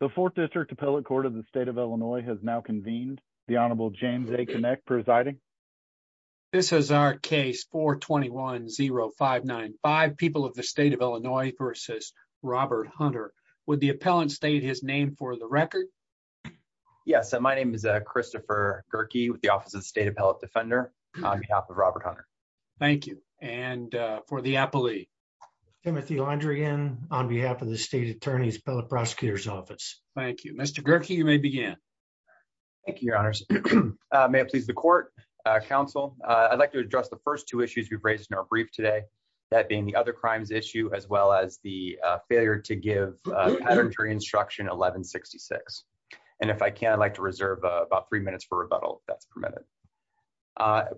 The 4th District Appellate Court of the State of Illinois has now convened. The Honorable James A. Connick presiding. This is our case 421-0595, People of the State of Illinois v. Robert Hunter. Would the appellant state his name for the record? Yes, my name is Christopher Gerke with the Office of the State Appellate Defender on behalf of Robert Hunter. Thank you. And for the appellee? Timothy Londrigan on behalf of the State Attorney's Appellate Prosecutor's Office. Thank you. Mr. Gerke, you may begin. Thank you, Your Honors. May it please the Court, Council, I'd like to address the first two issues we've raised in our brief today, that being the other crimes issue as well as the failure to give paternitory instruction 1166. And if I can, I'd like to reserve about three minutes for rebuttal if that's permitted.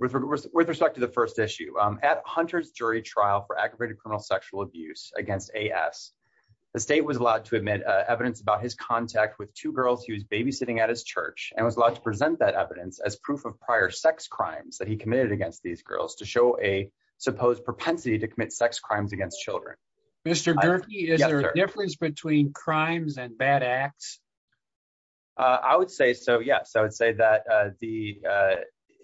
With respect to the first issue, at Hunter's jury trial for aggravated criminal sexual abuse against A.S., the state was allowed to admit evidence about his contact with two girls he was babysitting at his church and was allowed to present that evidence as proof of prior sex crimes that he committed against these girls to show a supposed propensity to commit sex crimes against children. Mr. Gerke, is there a difference between crimes and bad acts? I would say so, yes. I would say that the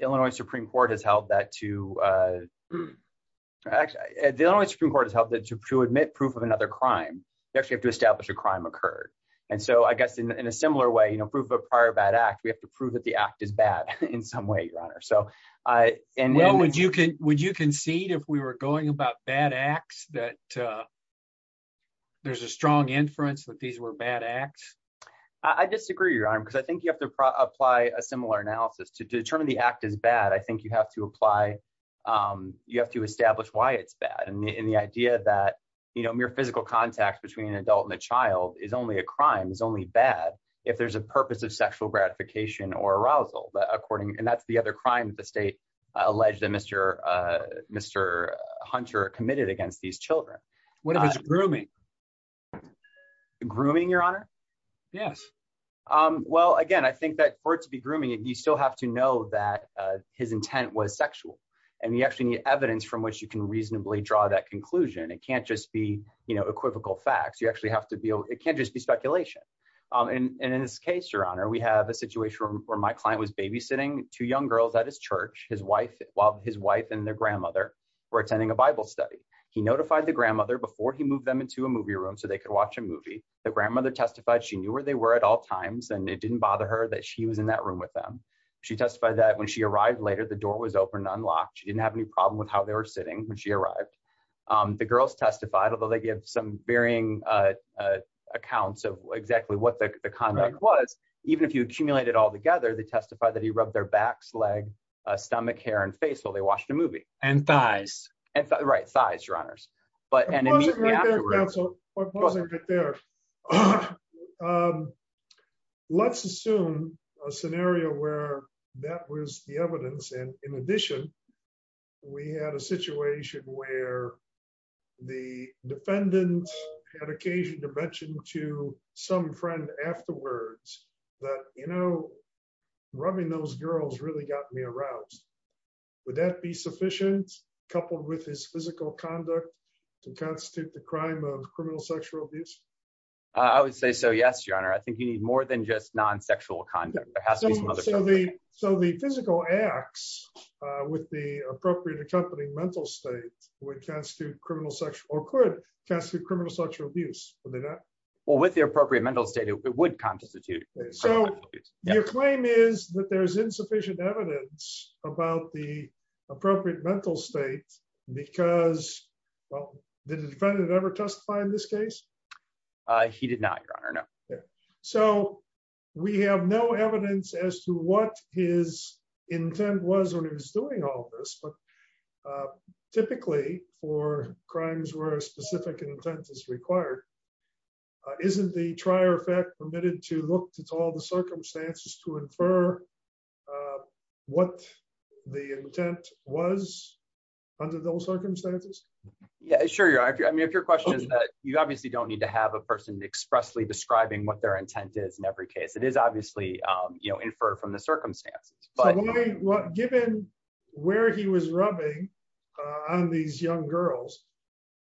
Illinois Supreme Court has held that to... The Illinois Supreme Court has held that to admit proof of another crime, you actually have to establish a crime occurred. And so I guess in a similar way, proof of a prior bad act, we have to prove that the act is bad in some way, Your Honor. Would you concede if we were going about bad acts that there's a strong inference that these were bad acts? I disagree, Your Honor, because I think you have to apply a similar analysis. To determine the act as bad, I think you have to apply... And the idea that mere physical contact between an adult and a child is only a crime, is only bad if there's a purpose of sexual gratification or arousal. And that's the other crime that the state alleged that Mr. Hunter committed against these children. What if it's grooming? Grooming, Your Honor? Yes. Well, again, I think that for it to be grooming, you still have to know that his intent was sexual. And you actually need evidence from which you can reasonably draw that conclusion. It can't just be equivocal facts. You actually have to be... It can't just be speculation. And in this case, Your Honor, we have a situation where my client was babysitting two young girls at his church while his wife and their grandmother were attending a Bible study. He notified the grandmother before he moved them into a movie room so they could watch a movie. The grandmother testified she knew where they were at all times and it didn't bother her that she was in that room with them. She testified that when she arrived later, the door was open and unlocked. She didn't have any problem with how they were sitting when she arrived. The girls testified, although they give some varying accounts of exactly what the conduct was, even if you accumulate it all together, they testified that he rubbed their backs, leg, stomach, hair, and face while they watched a movie. And thighs. Right. Thighs, Your Honors. But, and in the afterwards... I wasn't quite there. Let's assume a scenario where that was the evidence. And in addition, we had a situation where the defendant had occasion to mention to some friend afterwards that, you know, rubbing those girls really got me aroused. Would that be sufficient, coupled with his physical conduct, to constitute the crime of criminal sexual abuse? I would say so, yes, Your Honor. I think you need more than just non-sexual conduct. There has to be some other... So the physical acts with the appropriate accompanying mental state would constitute criminal sexual, or could constitute criminal sexual abuse, would they not? Well, with the appropriate mental state, it would constitute. So your claim is that there's insufficient evidence about the appropriate mental state because, well, did the defendant ever testify in this case? He did not, Your Honor, no. So we have no evidence as to what his intent was when he was doing all of this, but typically for crimes where a specific intent is required, isn't the trier effect permitted to look at all the circumstances to infer what the intent was under those circumstances? Yeah, sure, Your Honor. I mean, if your question is that, you obviously don't need to have a person expressly describing what their intent is in every case. It is obviously, you know, inferred from the circumstances. But given where he was rubbing on these young girls,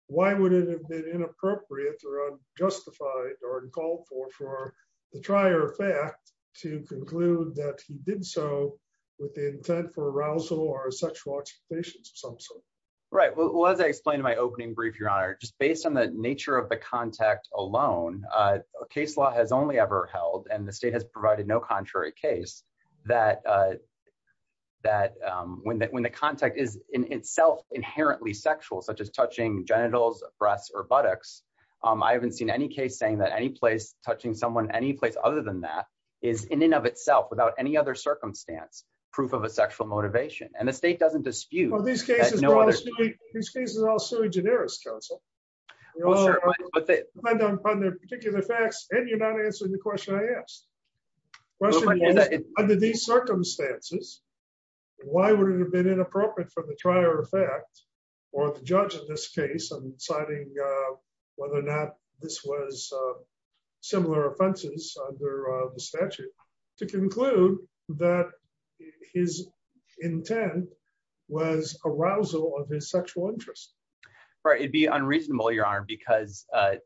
why would it have been inappropriate or unjustified or called for the trier effect to conclude that he did so with the intent for arousal or sexual exploitation of some sort? Right, well, as I explained in my opening brief, Your Honor, just based on the nature of the contact alone, a case law has only ever held, and the state has provided no contrary case, that when the contact is in itself inherently sexual, such as touching genitals, breasts, or buttocks, I haven't seen any case saying that any place touching someone, any place other than that, is in and of itself, without any other circumstance, proof of a sexual motivation. And the state doesn't dispute. Well, these cases are all sui generis, counsel. Well, sure, but they... Depending upon their particular facts, and you're not answering the question I asked. Question is, under these circumstances, why would it have been inappropriate for the trier effect, or the judge of this case, deciding whether or not this was similar offenses under the statute, to conclude that his intent was arousal of his sexual interest? Right, it'd be unreasonable, Your Honor, because I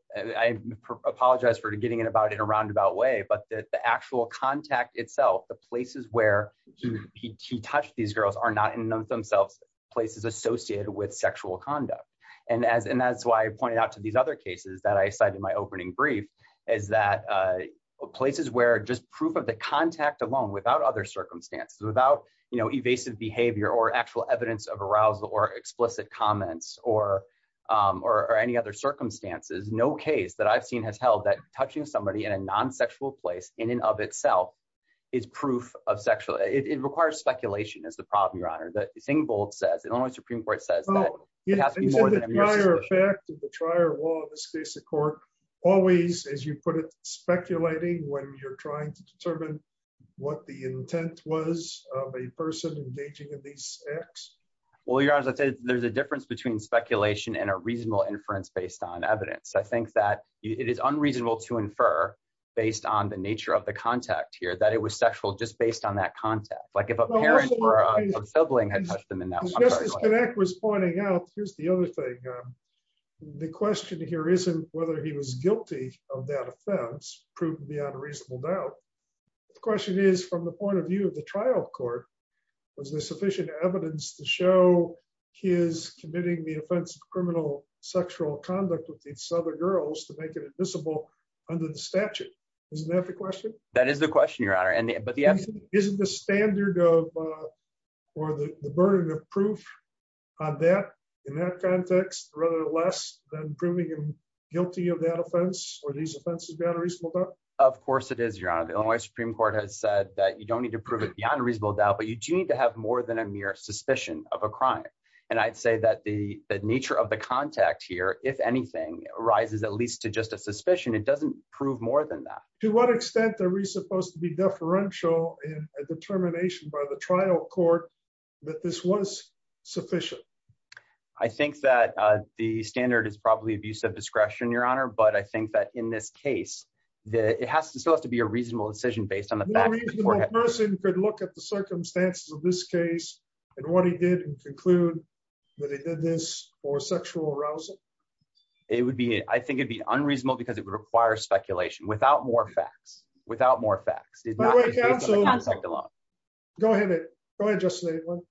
apologize for getting it about in a roundabout way, but the actual contact itself, the places where he touched these girls, are not in and of themselves places associated with sexual conduct. And that's why I pointed out to these other cases that I cited in my opening brief, is that places where just proof of the contact alone, without other circumstances, without evasive behavior, or actual evidence of arousal, or explicit comments, or any other circumstances, no case that I've seen has held that touching somebody in a non-sexual place, in and of itself, is proof of sexual... It requires speculation, is the problem, Your Honor, that Singvold says, Illinois Supreme Court says that it has to be more than a mere... Oh, isn't the trier effect of the trier law in this case of court always, as you put it, speculating when you're trying to determine what the intent was of a person engaging in these acts? Well, Your Honor, as I said, there's a difference between speculation and a reasonable inference based on evidence. I think that it is unreasonable to infer, based on the nature of the contact here, that it was sexual, just based on that contact. Like if a parent or a sibling had touched them in that... As Justice Knack was pointing out, here's the other thing. The question here isn't whether he was guilty of that offense, proven beyond a reasonable doubt. The question is, from the point of view of the trial court, was there sufficient evidence to show he is committing the offense of criminal sexual conduct with these other girls to make it admissible under the statute? Isn't that the question? That is the question, Your Honor. Isn't the standard or the burden of proof in that context rather less than proving him guilty of that offense or these offenses beyond a reasonable doubt? Of course it is, Your Honor. The Illinois Supreme Court has said that you don't need to prove it beyond a reasonable doubt, but you do have more than a mere suspicion of a crime. And I'd say that the nature of the contact here, if anything, rises at least to just a suspicion. It doesn't prove more than that. To what extent are we supposed to be deferential in a determination by the trial court that this was sufficient? I think that the standard is probably abuse of discretion, Your Honor, but I think that in this case, it still has to be a reasonable decision based on the facts. No reasonable person could look at the circumstances of this case and what he did and conclude that he did this for sexual arousal. It would be, I think it'd be unreasonable because it would require speculation without more facts, without more facts. Go ahead. Go ahead, Justice Lavelle.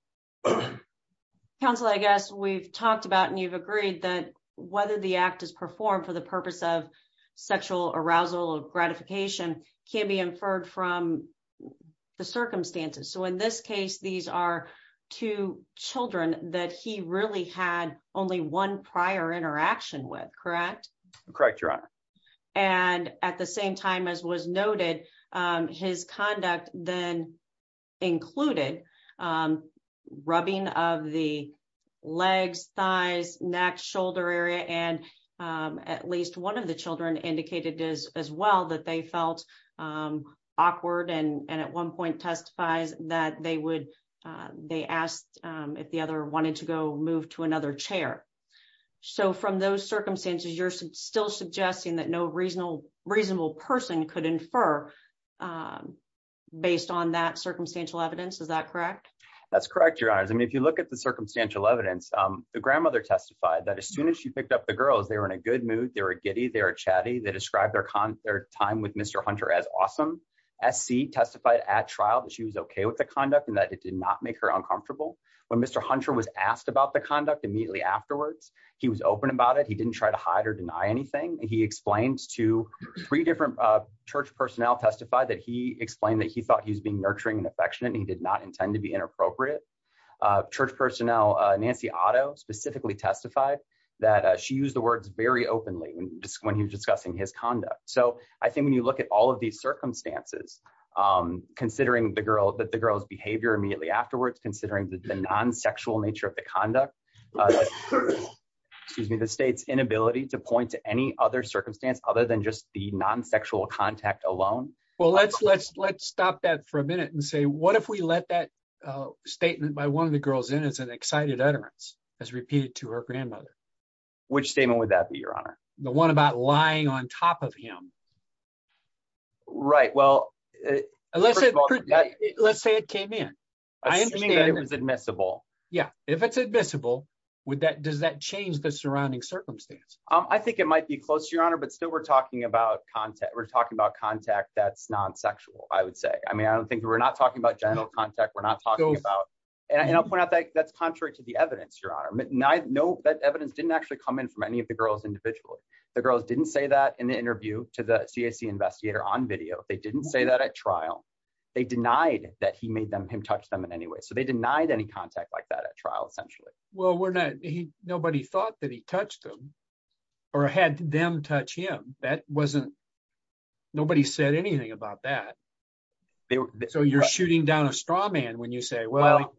Counsel, I guess we've talked about and you've agreed that whether the act is performed for the So in this case, these are two children that he really had only one prior interaction with, correct? Correct, Your Honor. And at the same time as was noted, his conduct then included rubbing of the legs, thighs, neck, shoulder area. And at least one of the children indicated as well that they felt awkward and at one point testifies that they asked if the other wanted to go move to another chair. So from those circumstances, you're still suggesting that no reasonable person could infer based on that circumstantial evidence, is that correct? That's correct, Your Honor. I mean, if you look at the circumstantial evidence, the grandmother testified that as soon as she picked up the girls, they were in a good mood, they were giddy, they were chatty. They described their time with Mr. Hunter as awesome. SC testified at trial that she was okay with the conduct and that it did not make her uncomfortable. When Mr. Hunter was asked about the conduct immediately afterwards, he was open about it. He didn't try to hide or deny anything. He explained to three different church personnel testified that he explained that he thought he was being nurturing and affectionate and he did not intend to be inappropriate. Church personnel, Nancy Otto specifically testified that she used words very openly when he was discussing his conduct. So I think when you look at all of these circumstances, considering the girl's behavior immediately afterwards, considering the non-sexual nature of the conduct, the state's inability to point to any other circumstance other than just the non-sexual contact alone. Well, let's stop that for a minute and say, what if we let that statement by one of the girls in as an excited utterance as repeated to her grandmother? Which statement would that be, your honor? The one about lying on top of him. Right. Well, let's say it came in. Assuming that it was admissible. Yeah. If it's admissible, does that change the surrounding circumstance? I think it might be close to your honor, but still we're talking about contact. We're talking about contact that's non-sexual, I would say. I mean, I don't think we're not talking about genital contact. We're not talking about, and I'll point out that that's contrary to the evidence, your honor. No, that evidence didn't actually come in from any of the girls individually. The girls didn't say that in the interview to the CAC investigator on video. They didn't say that at trial. They denied that he made them, him touch them in any way. So they denied any contact like that at trial essentially. Well, we're not, nobody thought that he touched them or had them touch him. That wasn't, nobody said anything about that. So you're shooting down a straw man when you say,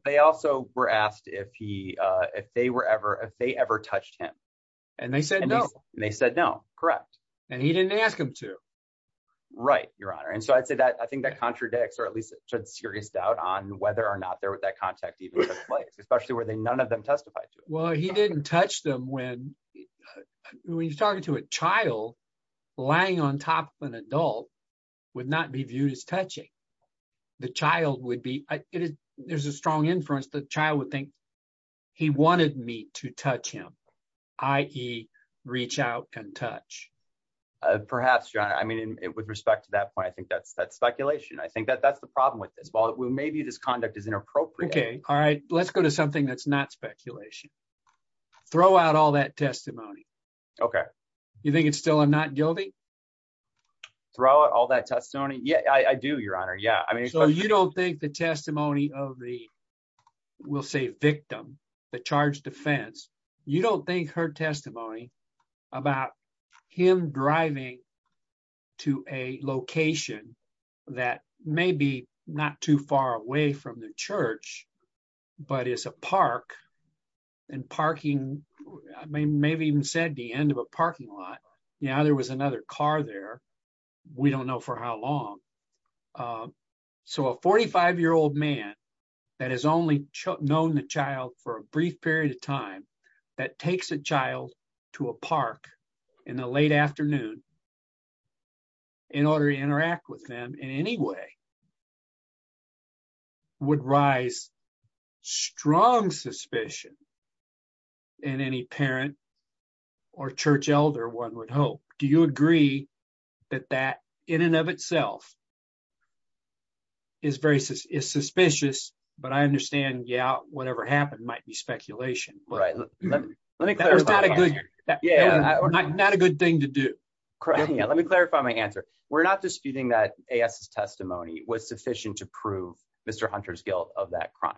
they also were asked if he, if they were ever, if they ever touched him. And they said no. And they said no, correct. And he didn't ask him to. Right, your honor. And so I'd say that, I think that contradicts, or at least should serious doubt on whether or not there was that contact even took place, especially where they, none of them testified to it. Well, he didn't touch them when, when you're talking to a child, lying on top of an adult would not be viewed as touching. The child would be, there's a strong inference. The child would think he wanted me to touch him, i.e. reach out and touch. Perhaps your honor. I mean, with respect to that point, I think that's, that's speculation. I think that that's the problem with this. Well, maybe this conduct is inappropriate. Okay. All right. Let's go to something that's not speculation. Throw out all that testimony. Okay. You think it's still, I'm not guilty. Throw out all that testimony. Yeah, I do your honor. Yeah. I mean, so you don't think the testimony of the, we'll say victim, the charge defense, you don't think her testimony about him driving to a location that may be not too far away from the parking lot. Now there was another car there. We don't know for how long. So a 45 year old man that has only known the child for a brief period of time that takes a child to a park in the late afternoon in order to interact with them in any way would rise strong suspicion in any parent or church elder. One would hope. Do you agree that that in and of itself is very suspicious, but I understand. Yeah. Whatever happened might be speculation. Not a good thing to do. Yeah. Let me clarify my answer. We're not disputing that AS testimony was sufficient to prove Mr. Hunter's guilt of that crime.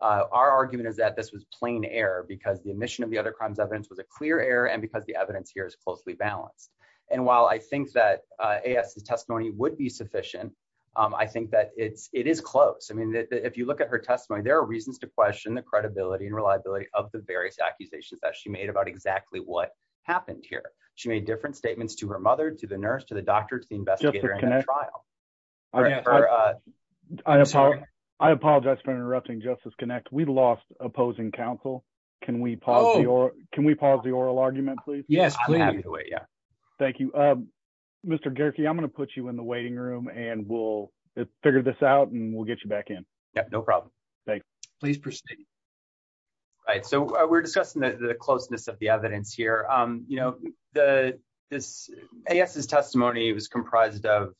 Our argument is that this was plain error because the omission of the other crimes evidence was a clear error. And because the evidence here is closely balanced. And while I think that AS testimony would be sufficient, I think that it's, it is close. I mean, if you look at her testimony, there are reasons to question the credibility and reliability of the various accusations that she made about exactly what happened here. She made different statements to her mother, to the nurse, to the doctor, to the investigator in a trial. I apologize for interrupting justice connect. We lost opposing counsel. Can we pause or can we pause the oral argument, please? Yes. Thank you. Mr. Garkey, I'm going to put you in the waiting room and we'll figure this out and we'll get you back in. Yeah, no problem. Thanks. Please proceed. All right. So we're discussing the closeness of the evidence here. You know, the this testimony was comprised of,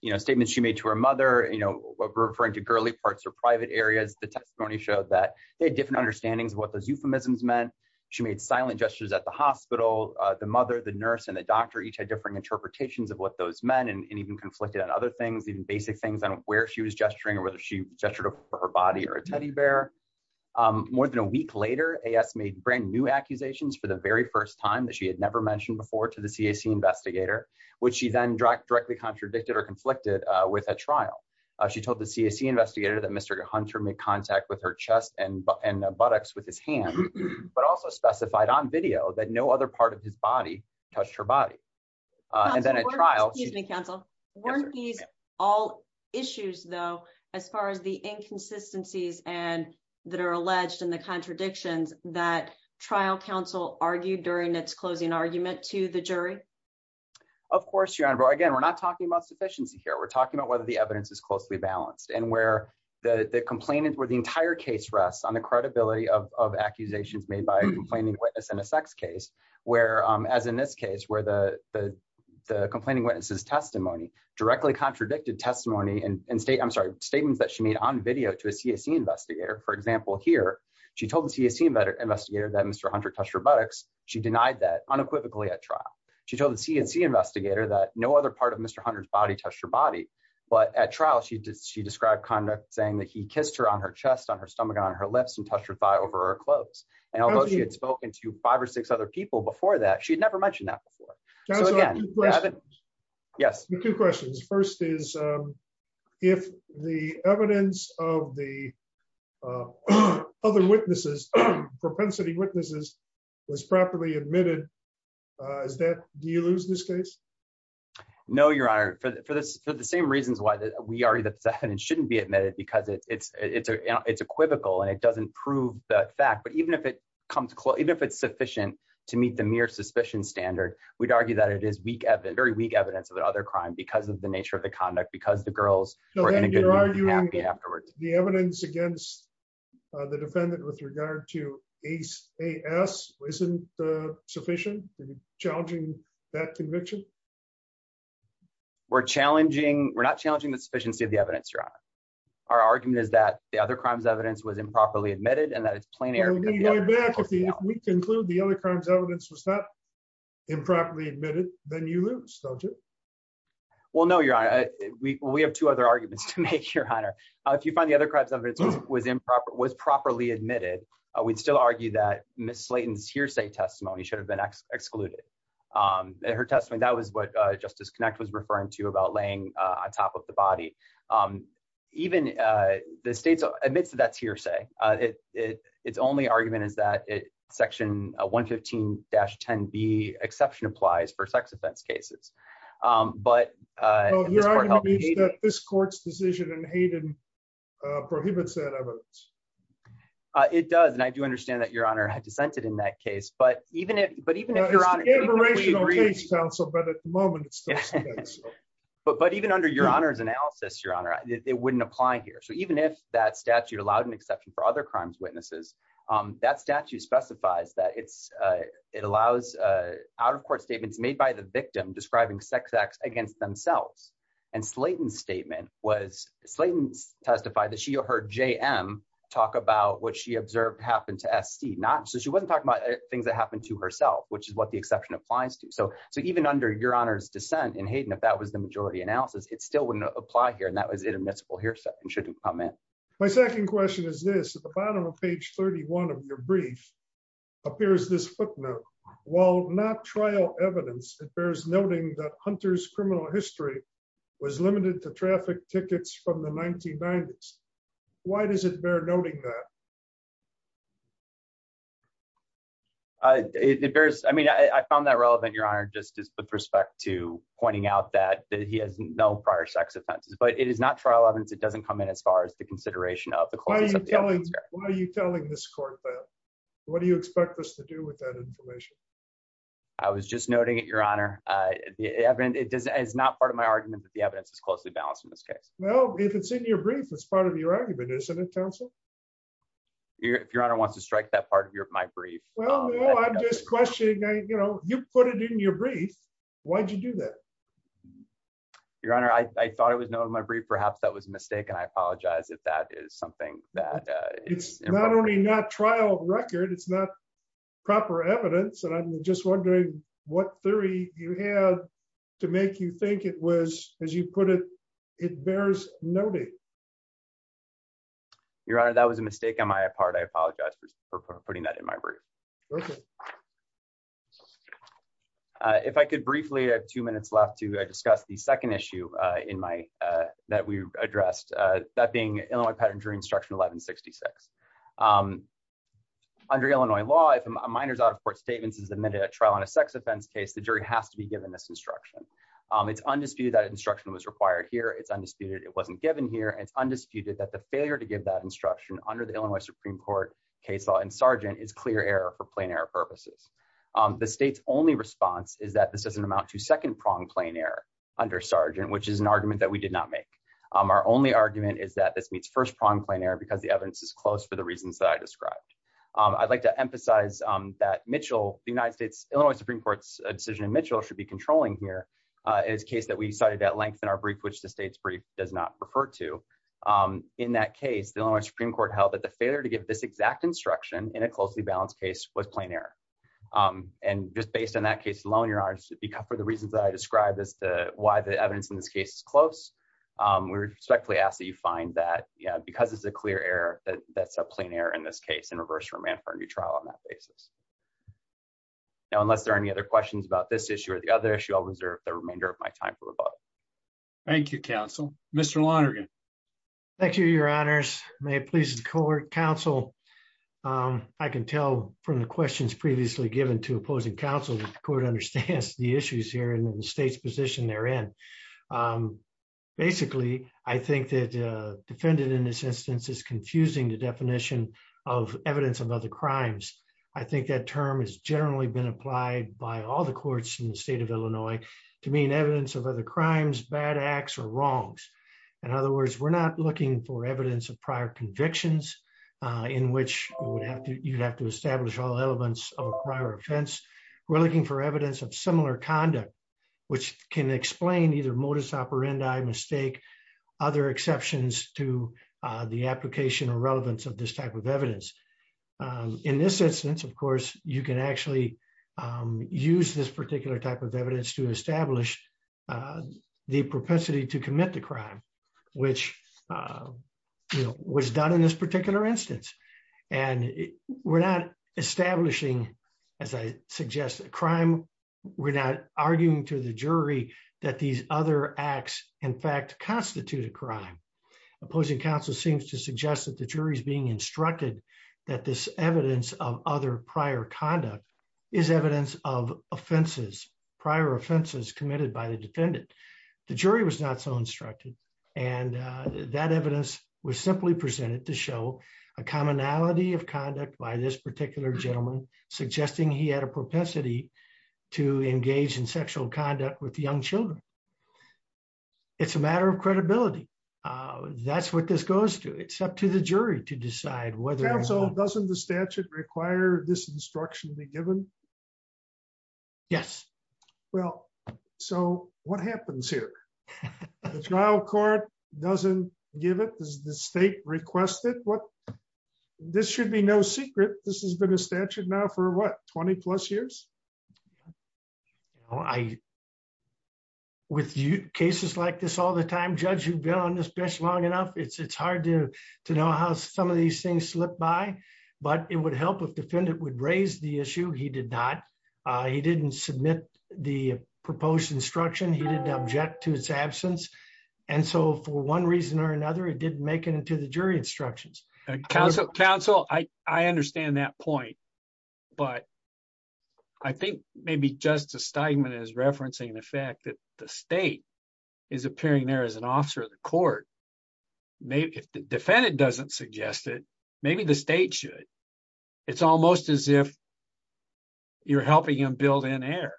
you know, statements she made to her mother, you know, referring to girly parts or private areas. The testimony showed that they had different understandings of what those euphemisms meant. She made silent gestures at the hospital. The mother, the nurse, and the doctor each had different interpretations of what those men and even conflicted on other things, even basic things on where she was gesturing or whether she gestured over her body or a teddy bear. More than a week later, AS made brand new accusations for the very first time that she had never mentioned before to the CAC investigator, which she then directly contradicted or conflicted with a trial. She told the CAC investigator that Mr. Hunter made contact with her chest and buttocks with his hand, but also specified on video that no other part of his body touched her body. And then at trial, weren't these all issues, though, as far as the inconsistencies and that are alleged in the contradictions that trial counsel argued during its closing argument to the jury? Of course, Your Honor, but again, we're not talking about sufficiency here. We're talking about whether the evidence is closely balanced and where the complainant, where the entire case rests on the credibility of accusations made by a complaining witness in a sex case, where, as in this case, where the complaining witness's testimony directly contradicted testimony and state, I'm sorry, statements that she made on video to a CAC investigator. For example, here, she told the CAC investigator that Mr. Hunter touched her buttocks. She denied that unequivocally at trial. She told the CAC investigator that no other part of Mr. Hunter's body touched her body. But at trial, she described conduct saying that he kissed her on her chest, on her stomach, on her lips and touched her thigh over her clothes. And although she had spoken to five or six other people before that, she'd never mentioned that before. So again, yes. I have two questions. First is, if the evidence of the other witnesses, propensity witnesses, was properly admitted, do you lose this case? No, Your Honor. For the same reasons why we argue that the evidence shouldn't be admitted, because it's equivocal and it doesn't prove the fact. But even if it's sufficient to meet the mere suspicion standard, we'd argue that it is very weak evidence of the other crime because of the nature of the conduct, because the girls were in a good mood and happy afterwards. The evidence against the defendant with regard to AS isn't sufficient in challenging that conviction? We're not challenging the sufficiency of the evidence, Your Honor. Our argument is that the other crime's evidence was improperly admitted and that it's plain error. If we conclude the other crime's evidence was not improperly admitted, then you lose, don't you? Well, no, Your Honor. We have two other If you find the other crime's evidence was properly admitted, we'd still argue that Ms. Slayton's hearsay testimony should have been excluded. In her testimony, that was what Justice Connect was referring to about laying on top of the body. Even the state admits that that's hearsay. Its only argument is that Section 115-10B exception applies for sex offense cases. But your argument is that this court's decision in Hayden prohibits that evidence? It does, and I do understand that Your Honor had dissented in that case. But even under Your Honor's analysis, Your Honor, it wouldn't apply here. So even if that statute allowed an exception for other crime's witnesses, that statute specifies that it allows out-of-court statements made by the victim describing sex acts against themselves. And Slayton's statement was, Slayton testified that she heard J.M. talk about what she observed happened to S.C. So she wasn't talking about things that happened to herself, which is what the exception applies to. So even under Your Honor's dissent in Hayden, if that was the majority analysis, it still wouldn't apply here, and that was inadmissible hearsay and shouldn't come in. My second question is this. At the bottom of page 31 of your brief appears this footnote. While not trial evidence, it bears noting that Hunter's criminal history was limited to traffic tickets from the 1990s. Why does it bear noting that? I mean, I found that relevant, Your Honor, just with respect to pointing out that he has no prior sex offenses. But it is not trial evidence. It doesn't come in as far as the consideration of Why are you telling this court that? What do you expect us to do with that information? I was just noting it, Your Honor. It's not part of my argument that the evidence is closely balanced in this case. Well, if it's in your brief, it's part of your argument, isn't it, counsel? If Your Honor wants to strike that part of my brief. Well, no, I'm just questioning, you know, you put it in your brief. Why'd you do that? Your Honor, I thought it was noted in my brief. Perhaps that was a mistake, I apologize if that is something that it's not only not trial record, it's not proper evidence. And I'm just wondering what theory you had to make you think it was, as you put it, it bears noting. Your Honor, that was a mistake on my part. I apologize for putting that in my brief. If I could briefly have two minutes left to discuss the second issue in my that we addressed, that being Illinois Patent and Jury Instruction 1166. Under Illinois law, if a minor's out-of-court statements is admitted at trial on a sex offense case, the jury has to be given this instruction. It's undisputed that instruction was required here. It's undisputed it wasn't given here. It's undisputed that the failure to give that instruction under the Illinois Supreme Court case law and Sargent is clear error for plain error purposes. The state's only response is that this doesn't amount to second-prong plain error under Sargent, which is an argument that we did not make. Our only argument is that this meets first-prong plain error because the evidence is close for the reasons that I described. I'd like to emphasize that Mitchell, the United States, Illinois Supreme Court's decision in Mitchell should be controlling here. It is a case that we cited at length in our brief, which the state's brief does not refer to. In that case, the Illinois Supreme Court held that the failure to give this exact instruction in a closely balanced case was plain error. And just based on that case alone, Your Honor, for the reasons that I described, why the evidence in this case is close, we respectfully ask that you find that because it's a clear error, that's a plain error in this case and reverse remand for a new trial on that basis. Now, unless there are any other questions about this issue or the other issue, I'll reserve the remainder of my time for the vote. Thank you, counsel. Mr. Lonergan. Thank you, Your Honors. May it please the court, counsel. I can tell from the questions previously given to opposing counsel that the court understands the issues here and the state's position they're in. Basically, I think that defendant in this instance is confusing the definition of evidence of other crimes. I think that term has generally been applied by all the courts in the state of Illinois to mean evidence of other crimes, bad acts, or wrongs. In other words, we're not looking for evidence of prior convictions in which you'd have to establish all offense. We're looking for evidence of similar conduct, which can explain either modus operandi, mistake, other exceptions to the application or relevance of this type of evidence. In this instance, of course, you can actually use this particular type of evidence to establish the propensity to commit the crime, which was done in this particular instance. And we're not establishing, as I suggested, crime. We're not arguing to the jury that these other acts, in fact, constitute a crime. Opposing counsel seems to suggest that the jury is being instructed that this evidence of other prior conduct is evidence of offenses, prior offenses committed by the defendant. The jury was not so instructed, and that evidence was simply presented to show a commonality of conduct by this particular gentleman, suggesting he had a propensity to engage in sexual conduct with young children. It's a matter of credibility. That's what this goes to. It's up to the jury to decide whether... Counsel, doesn't the statute require this instruction be given? Yes. Well, so what happens here? The trial court doesn't give it? Does the this should be no secret. This has been a statute now for what, 20 plus years? With cases like this all the time, judge, you've been on this bench long enough. It's hard to know how some of these things slip by, but it would help if defendant would raise the issue. He did not. He didn't submit the proposed instruction. He didn't object to its absence. For one reason or another, it didn't make it into the jury instructions. Counsel, I understand that point, but I think maybe Justice Steigman is referencing the fact that the state is appearing there as an officer of the court. If the defendant doesn't suggest it, maybe the state should. It's almost as if you're helping him build in air.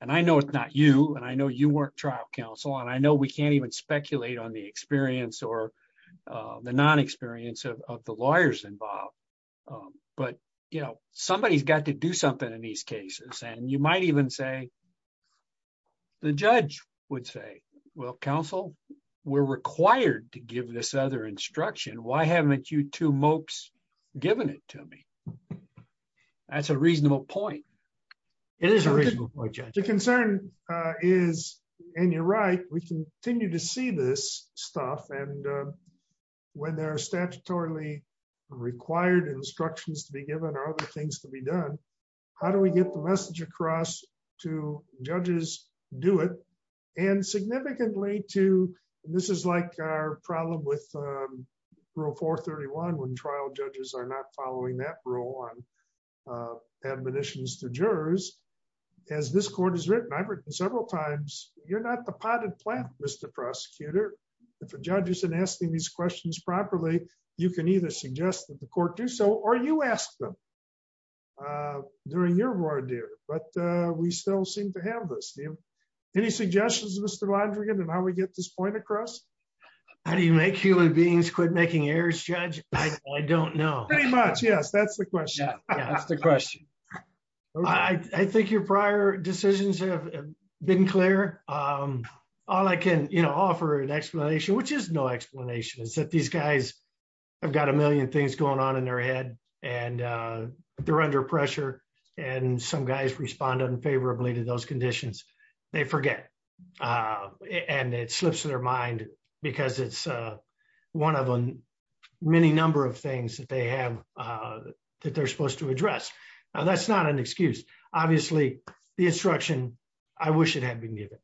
I know it's not you, I know you weren't trial counsel, and I know we can't even speculate on the experience or the non-experience of the lawyers involved, but somebody's got to do something in these cases. You might even say, the judge would say, well, counsel, we're required to give this other instruction. Why haven't you two mopes given it to me? That's a reasonable point. It is a reasonable point, Judge. The concern is, and you're right, we continue to see this stuff. When there are statutorily required instructions to be given or other things to be done, how do we get the message across to judges do it? Significantly to, and this is like our problem with rule 431 when trial judges are following that rule on admonitions to jurors. As this court has written, I've written several times, you're not the potted plant, Mr. Prosecutor. If a judge isn't asking these questions properly, you can either suggest that the court do so, or you ask them during your war, dear, but we still seem to have this. Any suggestions, Mr. Londrigan, on how we get this point across? How do you make human beings quit making errors, Judge? I don't know. Pretty much, yes. That's the question. I think your prior decisions have been clear. All I can offer an explanation, which is no explanation, is that these guys have got a million things going on in their head, and they're under pressure, and some guys respond unfavorably to those conditions. They forget, and it slips to their mind because it's one of many number of things that they have that they're supposed to address. Now, that's not an excuse. Obviously, the instruction, I wish it had been given.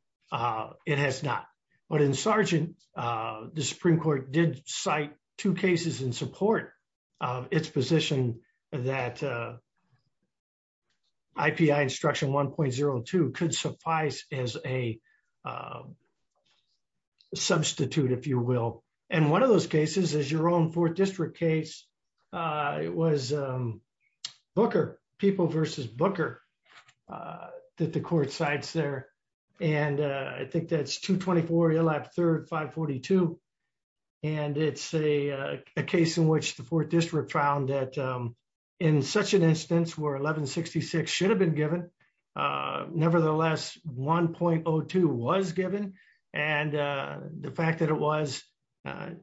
It has not. But in Sargent, the Supreme Court did cite two cases in support of its position that IPI Instruction 1.02 could suffice as a substitute, if you will. One of those cases is your own 4th District case. It was Booker, people versus Booker, that the court cites there. I think that's 224, 3rd, 542. It's a case in which the 4th District found that in such an instance where 1166 should have been given, nevertheless, 1.02 was given. The fact that it was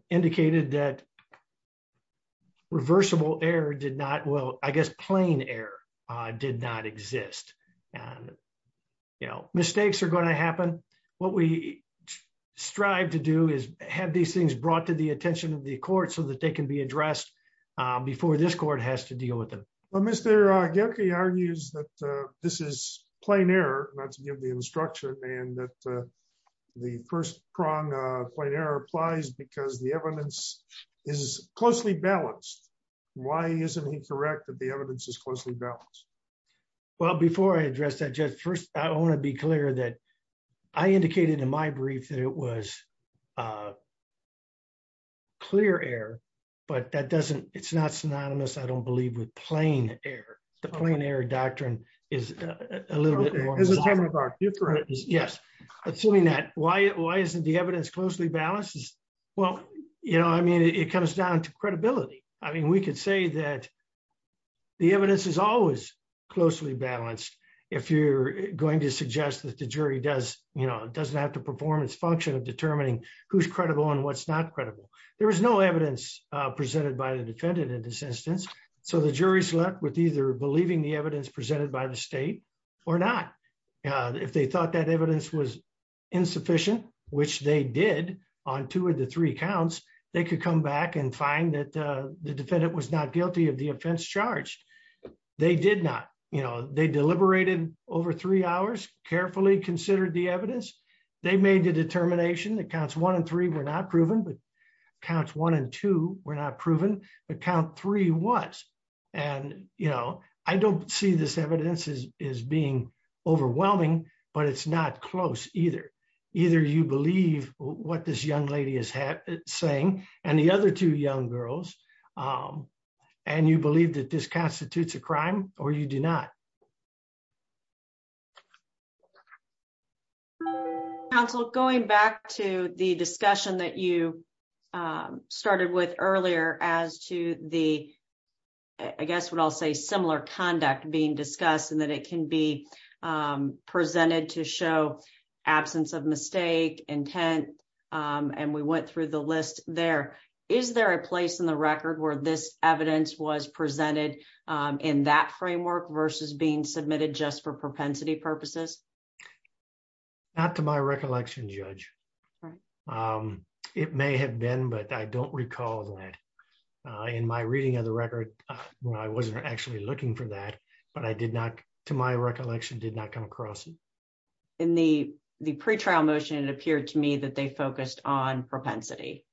indicated that reversible error did not, I guess, plain error did not exist. Mistakes are going to happen. What we strive to do is have these things brought to the attention of the court so that they can be addressed before this court has to deal with them. Well, Mr. Gilkey argues that this is plain error, not to give the instruction, and that the first prong of plain error applies because the evidence is closely balanced. Why isn't he correct that the evidence is closely balanced? Well, before I address that, Judge, first, I want to be clear that I indicated in my brief that it was clear error, but that doesn't, it's not synonymous, I don't believe, with plain error. The plain error doctrine is a little bit more- As a camera doc, you're correct. Yes. Assuming that, why isn't the evidence closely balanced? Well, I mean, it comes down to credibility. I mean, we could say that the evidence is always closely balanced if you're going to suggest that the jury doesn't have to perform its function of determining who's credible and what's not credible. There is no evidence presented by the defendant in this instance, so the jury's left with either believing the evidence presented by the state or not. If they thought that evidence was insufficient, which they did on two of the three counts, they could come back and find that the defendant was not guilty of the offense charged. They did not. They deliberated over three hours, carefully considered the evidence. They made the determination that counts one and three were not proven, but counts one and two were not proven, but count three was. I don't see this evidence as being overwhelming, but it's not close either. Either you believe what this young lady is saying, and the other two young girls, and you believe that this constitutes a crime or you do not. Counsel, going back to the discussion that you started with earlier as to the, I guess what I'll say, similar conduct being discussed and that it can be presented to show absence of mistake, intent, and we went through the list there. Is there a place in the record where this evidence was presented in that framework versus being submitted just for propensity purposes? Not to my recollection, Judge. Right. It may have been, but I don't recall that. In my reading of the record, I wasn't actually looking for that, but I did not, to my recollection, did not come across it. In the pretrial motion, it appeared to me that they focused on propensity.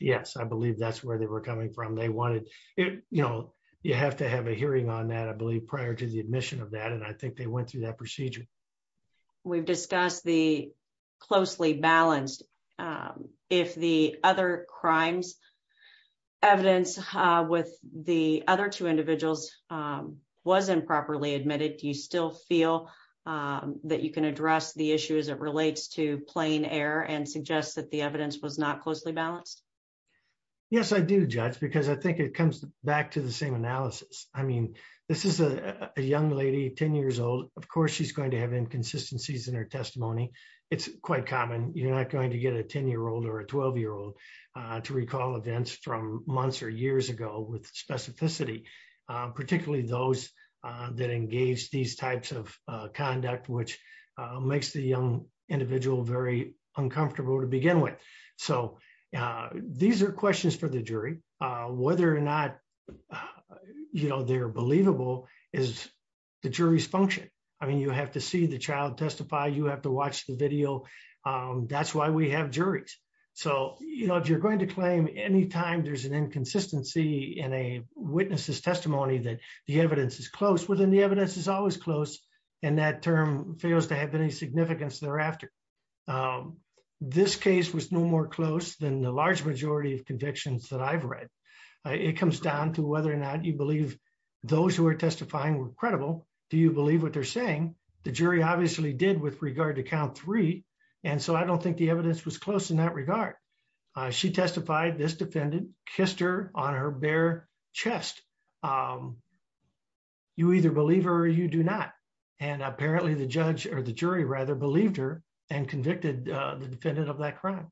Yes, I believe that's where they were coming from. You have to have a hearing on that, I believe, prior to the admission of that, and I think they went through that procedure. We've discussed the closely balanced. If the other crimes evidence with the other two individuals was improperly admitted, do you still feel that you can address the issue as it relates to plain error and suggest that the evidence was not closely balanced? Yes, I do, Judge, because I think it comes back to the same analysis. This is a young lady, 10 years old. Of course, she's going to have inconsistencies in her testimony. It's quite common. You're not going to get a 10-year-old or a 12-year-old to recall events from months or years ago with specificity, particularly those that engage these types of conduct, which makes the young individual very uncomfortable to begin with. So, these are questions for the jury. Whether or not they're believable is the jury's function. I mean, you have to see the child testify, you have to watch the video. That's why we have juries. So, you're going to claim any time there's an inconsistency in a witness's testimony that the evidence is close, well, then the evidence is always close, and that term fails to have any significance thereafter. This case was no more close than the large majority of convictions that I've read. It comes down to whether or not you believe those who are testifying were credible. Do you believe what they're saying? The jury obviously did with regard to count three, and so I don't think the evidence was close in that regard. She testified, this defendant kissed her on her bare chest. You either believe her or you do not, and apparently the judge, or the jury rather, believed her and convicted the defendant of that crime.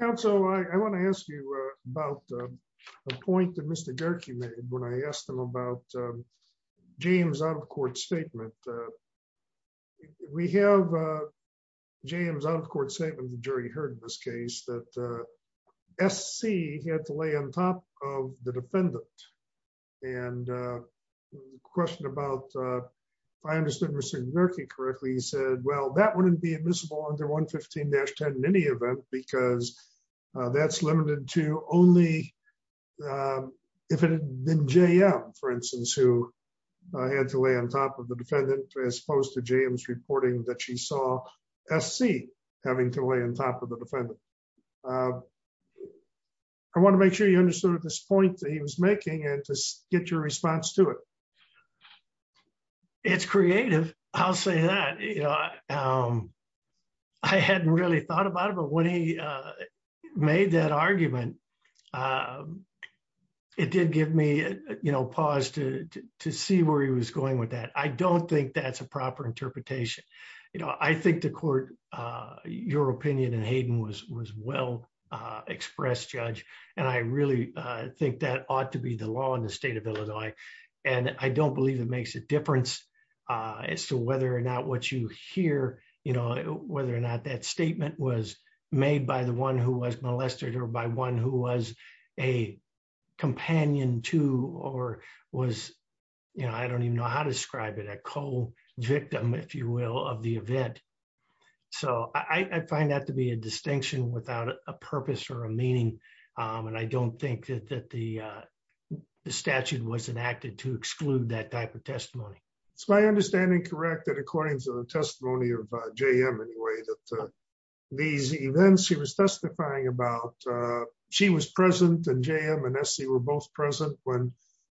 Counsel, I want to ask you about a point that Mr. Gerke made when I asked him about James' out-of-court statement. We have James' out-of-court statement, the jury heard in this case, that SC had to lay on top of the defendant, and the question about, if I understood Mr. Gerke correctly, he said, well, that wouldn't be admissible under 115-10 in any event because that's limited to only if it had been JM, for instance, who had to lay on top of the defendant, as opposed to James reporting that she saw SC having to lay on top of the defendant. I want to make sure you understood this point that he was making and to get your response to it. It's creative, I'll say that. I hadn't really thought about it, but when he made that argument, it did give me pause to see where he was going with that. I don't think that's a proper express judge, and I really think that ought to be the law in the state of Illinois. I don't believe it makes a difference as to whether or not what you hear, whether or not that statement was made by the one who was molested or by one who was a companion to, or was, I don't even know how to describe it, a co-victim, if you will, of the event. So, I find that to be a distinction without a purpose or a meaning, and I don't think that the statute was enacted to exclude that type of testimony. It's my understanding, correct, that according to the testimony of JM anyway, that these events he was testifying about, she was present and JM and SC were both present when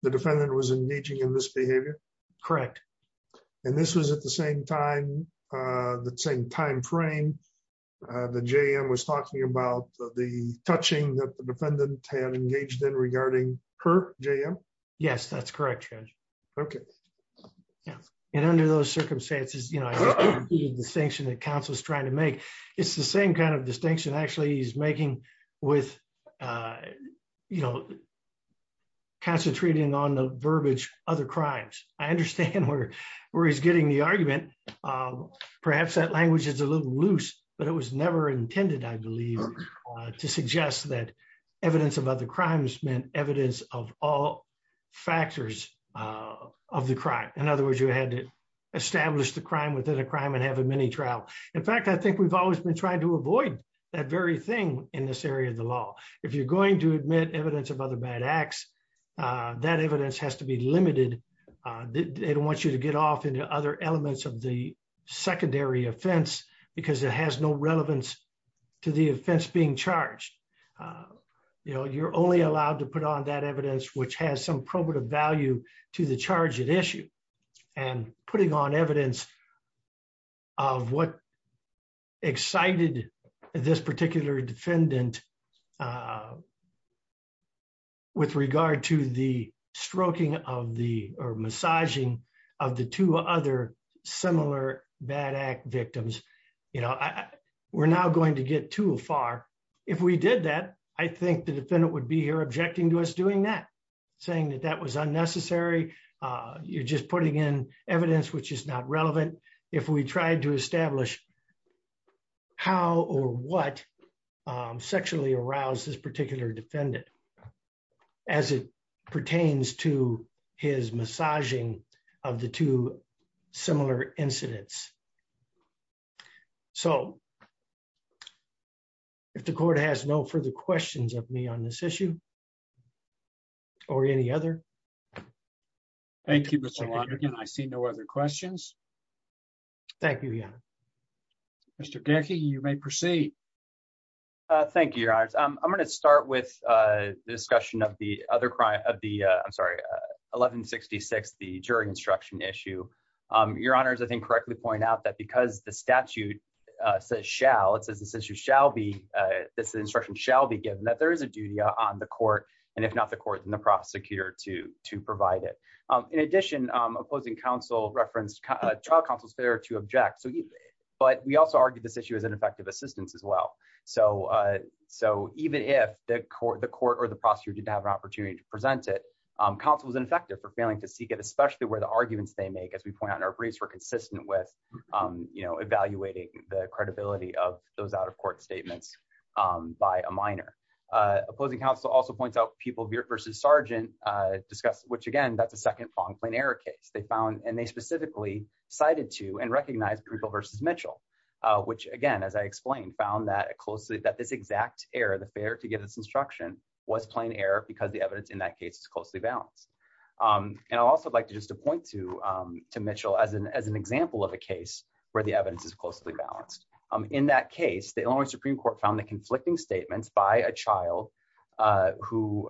the defendant was engaging in this behavior? Correct. And this was at the same time, the same time frame that JM was talking about, the touching that the defendant had engaged in regarding her, JM? Yes, that's correct, Judge. Okay. Yeah, and under those circumstances, you know, the distinction that counsel is trying to make, it's the same kind of distinction actually he's making with, you know, concentrating on the crimes. I understand where he's getting the argument. Perhaps that language is a little loose, but it was never intended, I believe, to suggest that evidence of other crimes meant evidence of all factors of the crime. In other words, you had to establish the crime within a crime and have a mini trial. In fact, I think we've always been trying to avoid that very thing in this area of the law. If you're going to admit evidence of other bad acts, that evidence has to be limited. It wants you to get off into other elements of the secondary offense because it has no relevance to the offense being charged. You know, you're only allowed to put on that evidence which has some probative value to the charge at issue and putting on evidence of what excited this particular defendant with regard to the stroking of the or massaging of the two other similar bad act victims. You know, we're now going to get too far. If we did that, I think the defendant would be here objecting to us doing that, saying that that was unnecessary. You're just putting in evidence which is not this particular defendant as it pertains to his massaging of the two similar incidents. So, if the court has no further questions of me on this issue or any other. Thank you, Mr. Lonergan. I see no other questions. Thank you, Your Honor. Mr. Gecki, you may proceed. Thank you, Your Honors. I'm going to start with the discussion of the other crime of the, I'm sorry, 1166, the jury instruction issue. Your Honors, I think correctly point out that because the statute says shall, it says this issue shall be, this instruction shall be given, that there is a duty on the court and if not the court, then the prosecutor to provide it. In addition, opposing counsel referenced trial counsel's failure to object, but we also argued this issue as ineffective assistance as well. So, even if the court or the prosecutor didn't have an opportunity to present it, counsel was ineffective for failing to seek it, especially where the arguments they make, as we point out in our briefs, were consistent with evaluating the credibility of those out of court statements by a minor. Opposing counsel also points out people versus sergeant discussed, which again, that's a second plain error case. They found, and they specifically cited to and recognized people versus Mitchell, which again, as I explained, found that this exact error, the failure to give this instruction was plain error because the evidence in that case is closely balanced. And I'd also like to just point to Mitchell as an example of a case where the evidence is closely balanced. In that case, the Illinois Supreme Court found the conflicting statements by a child who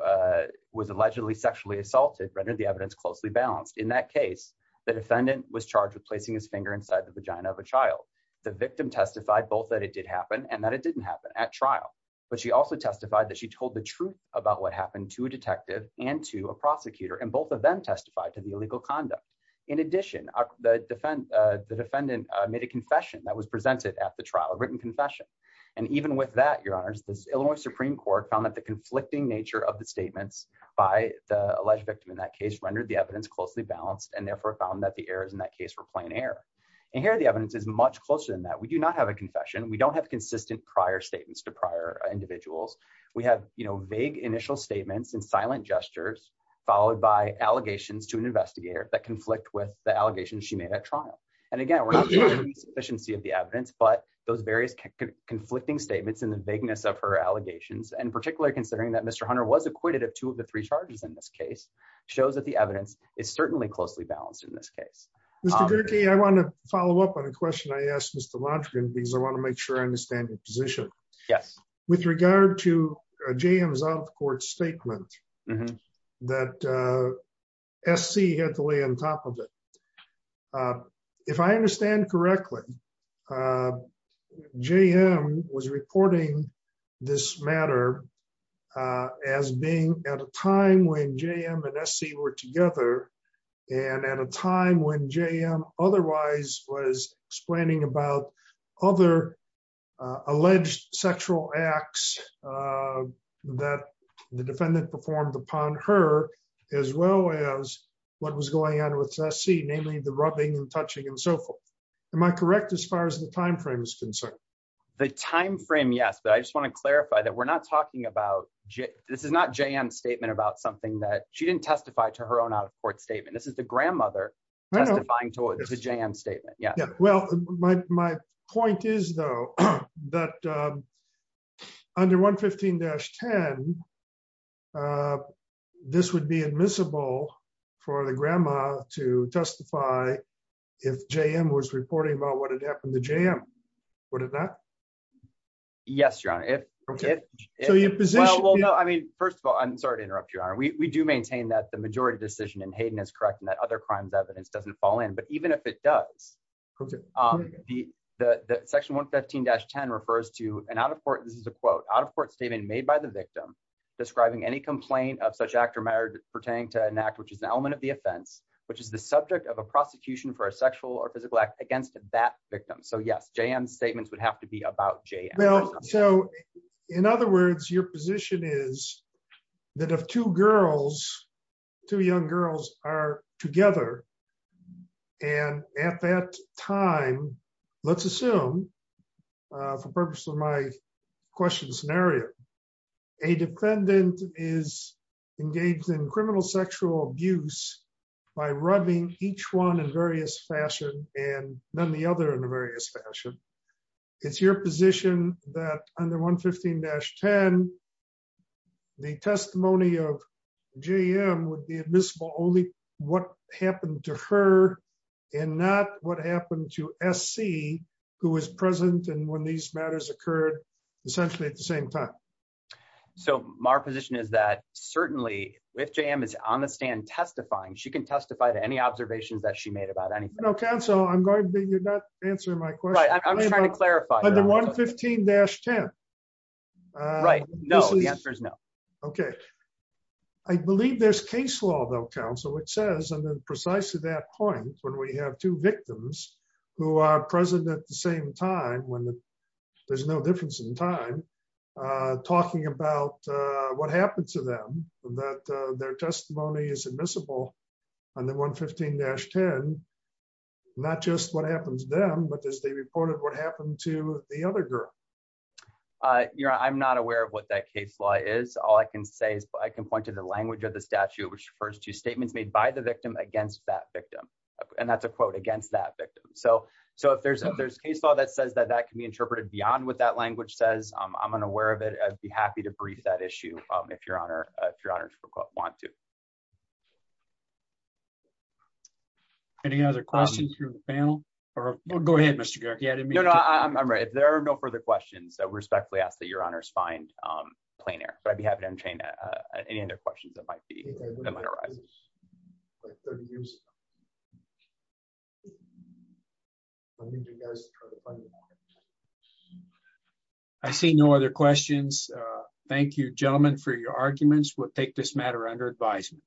was allegedly sexually assaulted rendered the evidence closely balanced. In that case, the defendant was charged with placing his finger inside the vagina of a child. The victim testified both that it did happen and that it didn't happen at trial, but she also testified that she told the truth about what happened to a detective and to a prosecutor, and both of them testified to the illegal conduct. In addition, the defendant made a confession that was presented at the trial, a written confession. And even with that, the Illinois Supreme Court found that the conflicting nature of the statements by the alleged victim in that case rendered the evidence closely balanced and therefore found that the errors in that case were plain error. And here, the evidence is much closer than that. We do not have a confession. We don't have consistent prior statements to prior individuals. We have vague initial statements and silent gestures followed by allegations to an investigator that conflict with the allegations she made at trial. And again, we're not sure the sufficiency of the evidence, but those various conflicting statements and the vagueness of her allegations, and particularly considering that Mr. Hunter was acquitted of two of the three charges in this case, shows that the evidence is certainly closely balanced in this case. Mr. Gierke, I want to follow up on a question I asked Mr. Lodgkin, because I want to make sure I understand your position. Yes. With regard to JM's out-of-court statement that SC had to lay on top of it, if I understand correctly, JM was reporting this matter as being at a time when JM and SC were together and at a time when JM otherwise was explaining about other alleged sexual acts that the defendant performed upon her, as well as what was going on with SC, namely the rubbing and touching and so forth. Am I correct as far as the time frame is concerned? The time frame, yes, but I just want to clarify that we're not talking about this is not JM's statement about something that she didn't testify to her own out-of-court statement. This is the grandmother testifying to JM's statement. Well, my point is, though, that under 115-10, this would be admissible for the grandma to testify if JM was reporting about what had happened to JM, would it not? Yes, Your Honor. Well, no, I mean, first of all, I'm sorry to interrupt, Your Honor. We do maintain that the majority decision in Hayden is correct and that other crimes evidence doesn't fall in, but even if it does, the section 115-10 refers to an out-of-court, this is a quote, out-of-court statement made by the victim describing any complaint of such act or matter pertaining to an act which is an element of the offense, which is the subject of a prosecution for a sexual or physical act against that victim. So yes, JM's statements would have to be about JM. So in other words, your position is that if two girls, two young girls are together and at that time, let's assume for purpose of my question scenario, a defendant is engaged in criminal sexual abuse by rubbing each one in various fashion and then the other in various fashion, it's your position that under 115-10, the testimony of JM would be admissible only what happened to her and not what happened to SC who was present and when these matters occurred essentially at the same time. So my position is that certainly if JM is on the stand testifying, she can testify to any observations that she made about anything. Counsel, I'm going to be, you're not answering my question. Right, I'm trying to clarify. Under 115-10. Right, no, the answer is no. Okay. I believe there's case law though, counsel, which says and then precisely that point, when we have two victims who are present at the same time when there's no difference in time, talking about what happened to them, that their testimony is admissible under 115-10, not just what happens to them, but as they reported what happened to the other girl. I'm not aware of what that case law is. All I can say is I can point to the language of the statute, which refers to statements made by the victim against that victim. And that's a quote against that victim. So if there's a case law that says that that can be interpreted beyond what that language says, I'm unaware of it. I'd be happy to brief that issue if your honors want to. Any other questions from the panel? Go ahead, Mr. Garrick. Yeah, no, I'm right. If there are no further questions, I respectfully ask that your honors find plain air. But I'd be happy to entertain any other questions that might arise. I see no other questions. Thank you, gentlemen, for your arguments. We'll take this matter under advisement.